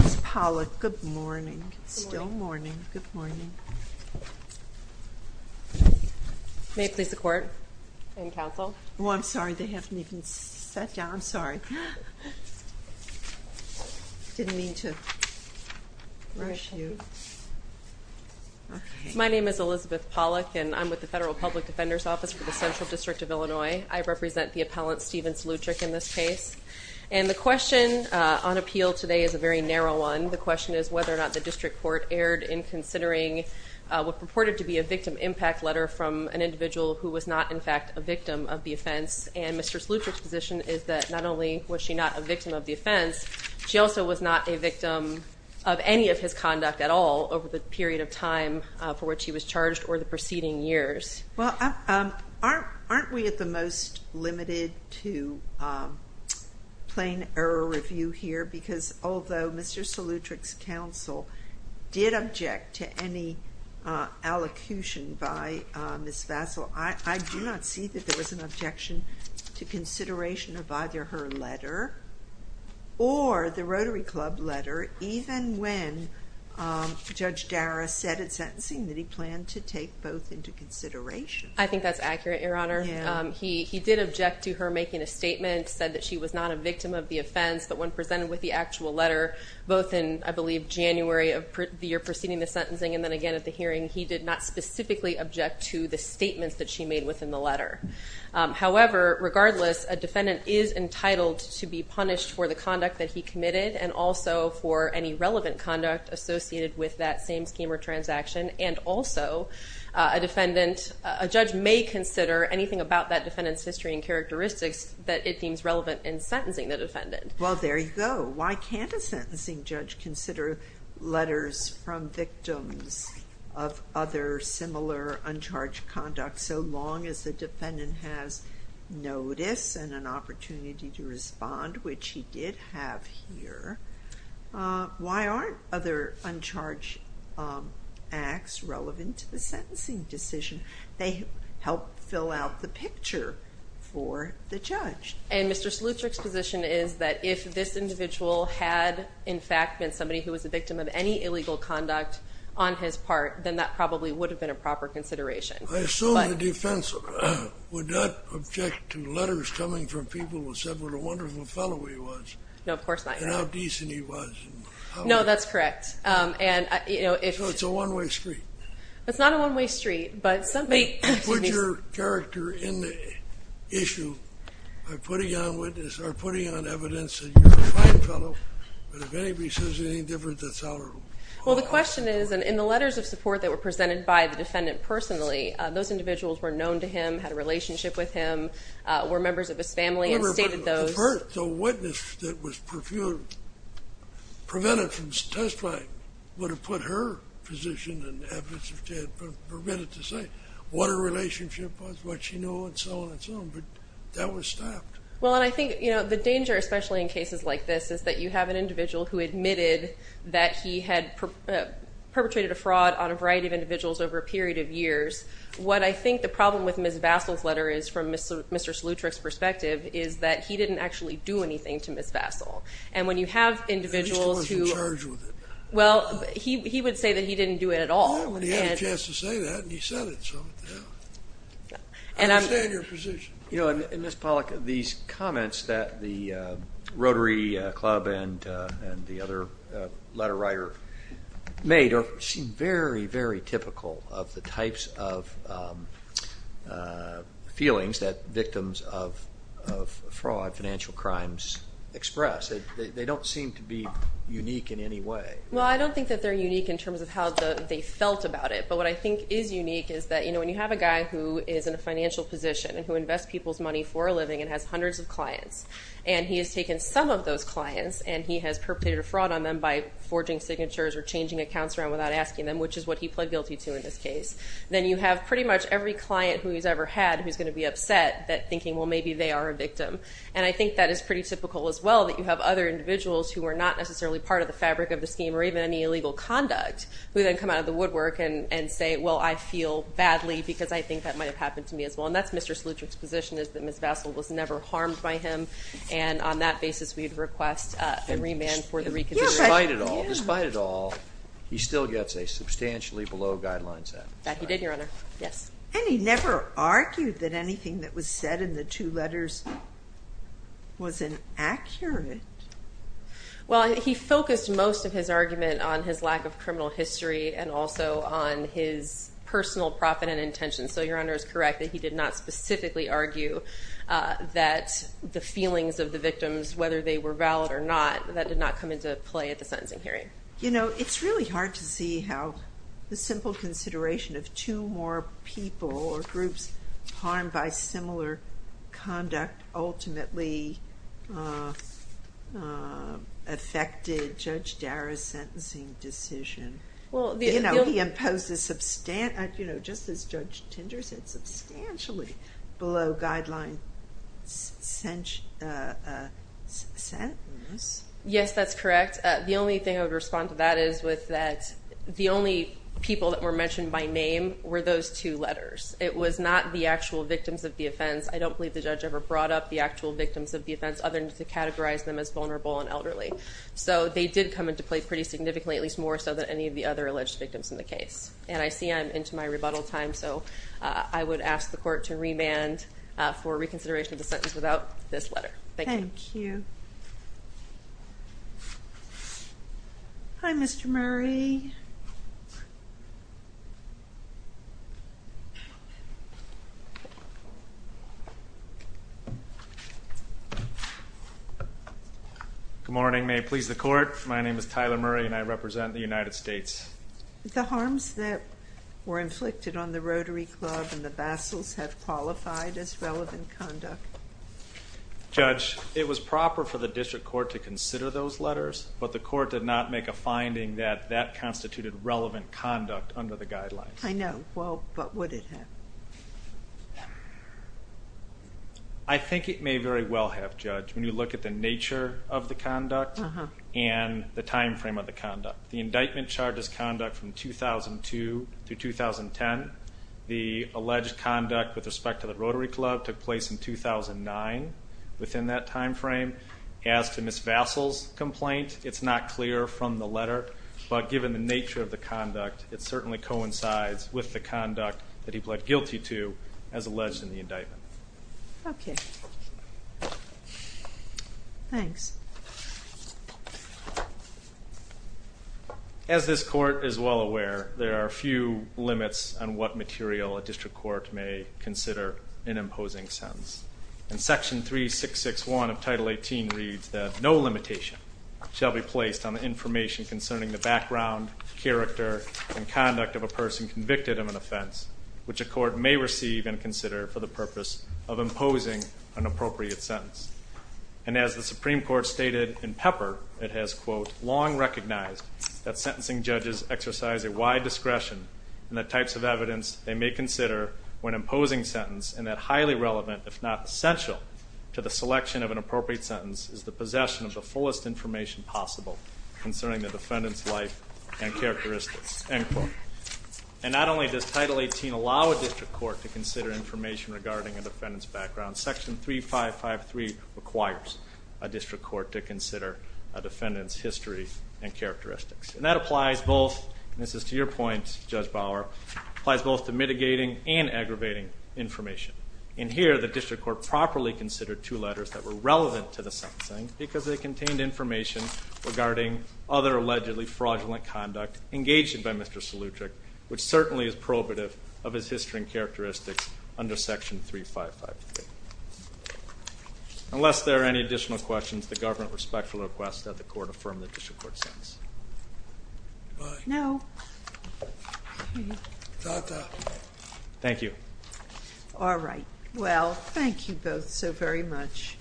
Ms. Pollack, good morning. It's still morning. Good morning. May it please the court and counsel. Oh I'm sorry they haven't even sat down. I'm sorry. I didn't mean to rush you. My name is Elizabeth Pollack and I'm with the Federal Public Defender's Office for the Central District of Illinois. I represent the appellant Steven Salutric in this case. And the question on appeal today is a very narrow one. The question is whether or not the district court erred in considering what purported to be a victim impact letter from an individual who was not in fact a victim of the offense. And Mr. Salutric's position is that not only was she not a victim of the offense, she also was not a victim of any of his conduct at all over the period of time for which he was charged or the preceding years. Well aren't we at the most limited to plain error review here because although Mr. Salutric's counsel did object to any allocution by Ms. Vassell, I do not see that there was an objection to consideration of either her letter or the Rotary Club letter even when Judge I think that's accurate, Your Honor. He did object to her making a statement, said that she was not a victim of the offense, but when presented with the actual letter, both in I believe January of the year preceding the sentencing and then again at the hearing, he did not specifically object to the statements that she made within the letter. However, regardless, a defendant is entitled to be punished for the conduct that he committed and also for any defendant, a judge may consider anything about that defendant's history and characteristics that it seems relevant in sentencing the defendant. Well there you go. Why can't a sentencing judge consider letters from victims of other similar uncharged conduct so long as the defendant has notice and an opportunity to respond, which he did have here? Why aren't other uncharged acts relevant to the sentencing decision? They help fill out the picture for the judge. And Mr. Solutrek's position is that if this individual had in fact been somebody who was a victim of any illegal conduct on his part, then that probably would have been a proper consideration. I assume the defense would not object to letters coming from people who said what a wonderful fellow he was. No, of course not. And how decent he was. No, that's correct. So it's a one-way street. It's not a one-way street, but somebody... Put your character in the issue by putting on witness or putting on evidence that you're a fine fellow, but if anybody says anything different, that's out of the question. Well the question is, in the letters of support that were presented by the defendant personally, those individuals were known to him, had a relationship with him, were members of his family, and stated those. The witness that was prevented from testifying would have put her position, and have Mr. Tedd prevented to say what a relationship was, what she knew, and so on and so on. But that was stopped. Well, and I think, you know, the danger, especially in cases like this, is that you have an individual who admitted that he had perpetrated a fraud on a variety of individuals over a period of years. What I think the problem with Ms. Vassell's letter is, from Mr. Solutrek's perspective, is that he didn't actually do anything to Ms. Vassell. And when you have individuals who... He still wasn't charged with it. Well, he would say that he didn't do it at all. Yeah, when he had a chance to say that, and he said it, so... I understand your position. You know, and Ms. Pollack, these comments that the Rotary Club and the other letter writer made seem very, very typical of the types of feelings that victims of fraud, financial crimes, express. They don't seem to be unique in any way. Well, I don't think that they're unique in terms of how they felt about it, but what I think is unique is that, you know, when you have a guy who is in a financial position, and who invests people's money for a living, and has hundreds of clients, and he has taken some of those clients, and he has perpetrated a fraud on them by forging signatures or changing accounts around without asking them, which is what he pled guilty to in this case, then you have pretty much every client who he's ever had who's going to be upset that thinking, well, maybe they are a victim. And I think that is pretty typical as well, that you have other individuals who are not necessarily part of the fabric of the scheme, or even any illegal conduct, who then come out of the woodwork and say, well, I feel badly because I think that might have happened to me as well. And that's Mr. Solutrek's position, is that Ms. Vassell was never harmed by him, and on that basis we'd request a remand for the reconsideration. Despite it all, he still gets a substantially below guidelines sentence. That he did, Your Honor. Yes. And he never argued that anything that was said in the two letters was inaccurate. Well, he focused most of his argument on his lack of criminal history, and also on his personal profit and intention. So Your Honor is correct that he did not specifically argue that the feelings of the victims, whether they were valid or not, that did not come into play at the sentencing hearing. You know, it's really hard to see how the simple consideration of two more people or groups harmed by similar conduct ultimately affected Judge Darra's sentencing decision. Well, you know, he imposed a substantial, you know, just as Judge Tinder said, substantially below guidelines sentence. Yes, that's correct. The only thing I would respond to that is with that the only people that were mentioned by name were those two letters. It was not the actual victims of the offense. I don't believe the judge ever brought up the actual victims of the offense, other than to categorize them as vulnerable and elderly. So they did come into play pretty significantly, at least more so than any of the other alleged victims in the case. And I see I'm into my rebuttal time, so I would ask the court to remand for reconsideration of this letter. Thank you. Hi, Mr. Murray. Good morning. May it please the court, my name is Tyler Murray and I represent the United States. The harms that were inflicted on the Rotary Club and the Judge, it was proper for the district court to consider those letters, but the court did not make a finding that that constituted relevant conduct under the guidelines. I know, well, but would it have? I think it may very well have, Judge, when you look at the nature of the conduct and the time frame of the conduct. The indictment charges conduct from 2002 to 2010. The alleged conduct with respect to the Rotary Club took place in 2009, within that time frame. As to Ms. Vassell's complaint, it's not clear from the letter, but given the nature of the conduct, it certainly coincides with the conduct that he pled guilty to as alleged in the indictment. Okay, thanks. As this court is well aware, there are a few types of evidence they may consider when imposing sentence. In Section 3661 of Title 18 reads that no limitation shall be placed on the information concerning the background, character, and conduct of a person convicted of an offense, which a court may receive and consider for the purpose of imposing an appropriate sentence. And as the Supreme Court stated in Pepper, it has, quote, long recognized that sentencing judges exercise a wide discretion in the types of evidence they may consider when imposing sentence in that highly relevant, if not essential, to the selection of an appropriate sentence is the possession of the fullest information possible concerning the defendant's life and characteristics, end quote. And not only does Title 18 allow a district court to consider information regarding a defendant's background, Section 3553 requires a district court to consider a defendant's history and characteristics. And that applies both, and this is to your point, Judge Bauer, applies both to mitigating and aggravating information. And here the district court properly considered two letters that were relevant to the sentencing because they contained information regarding other allegedly fraudulent conduct engaged in by Mr. Solutric, which certainly is probative of his history and characteristics under Section 3553. Unless there are any additional questions, the government respectfully requests that the court adjourn until tomorrow. Thank you. All right. Well, thank you both so very much.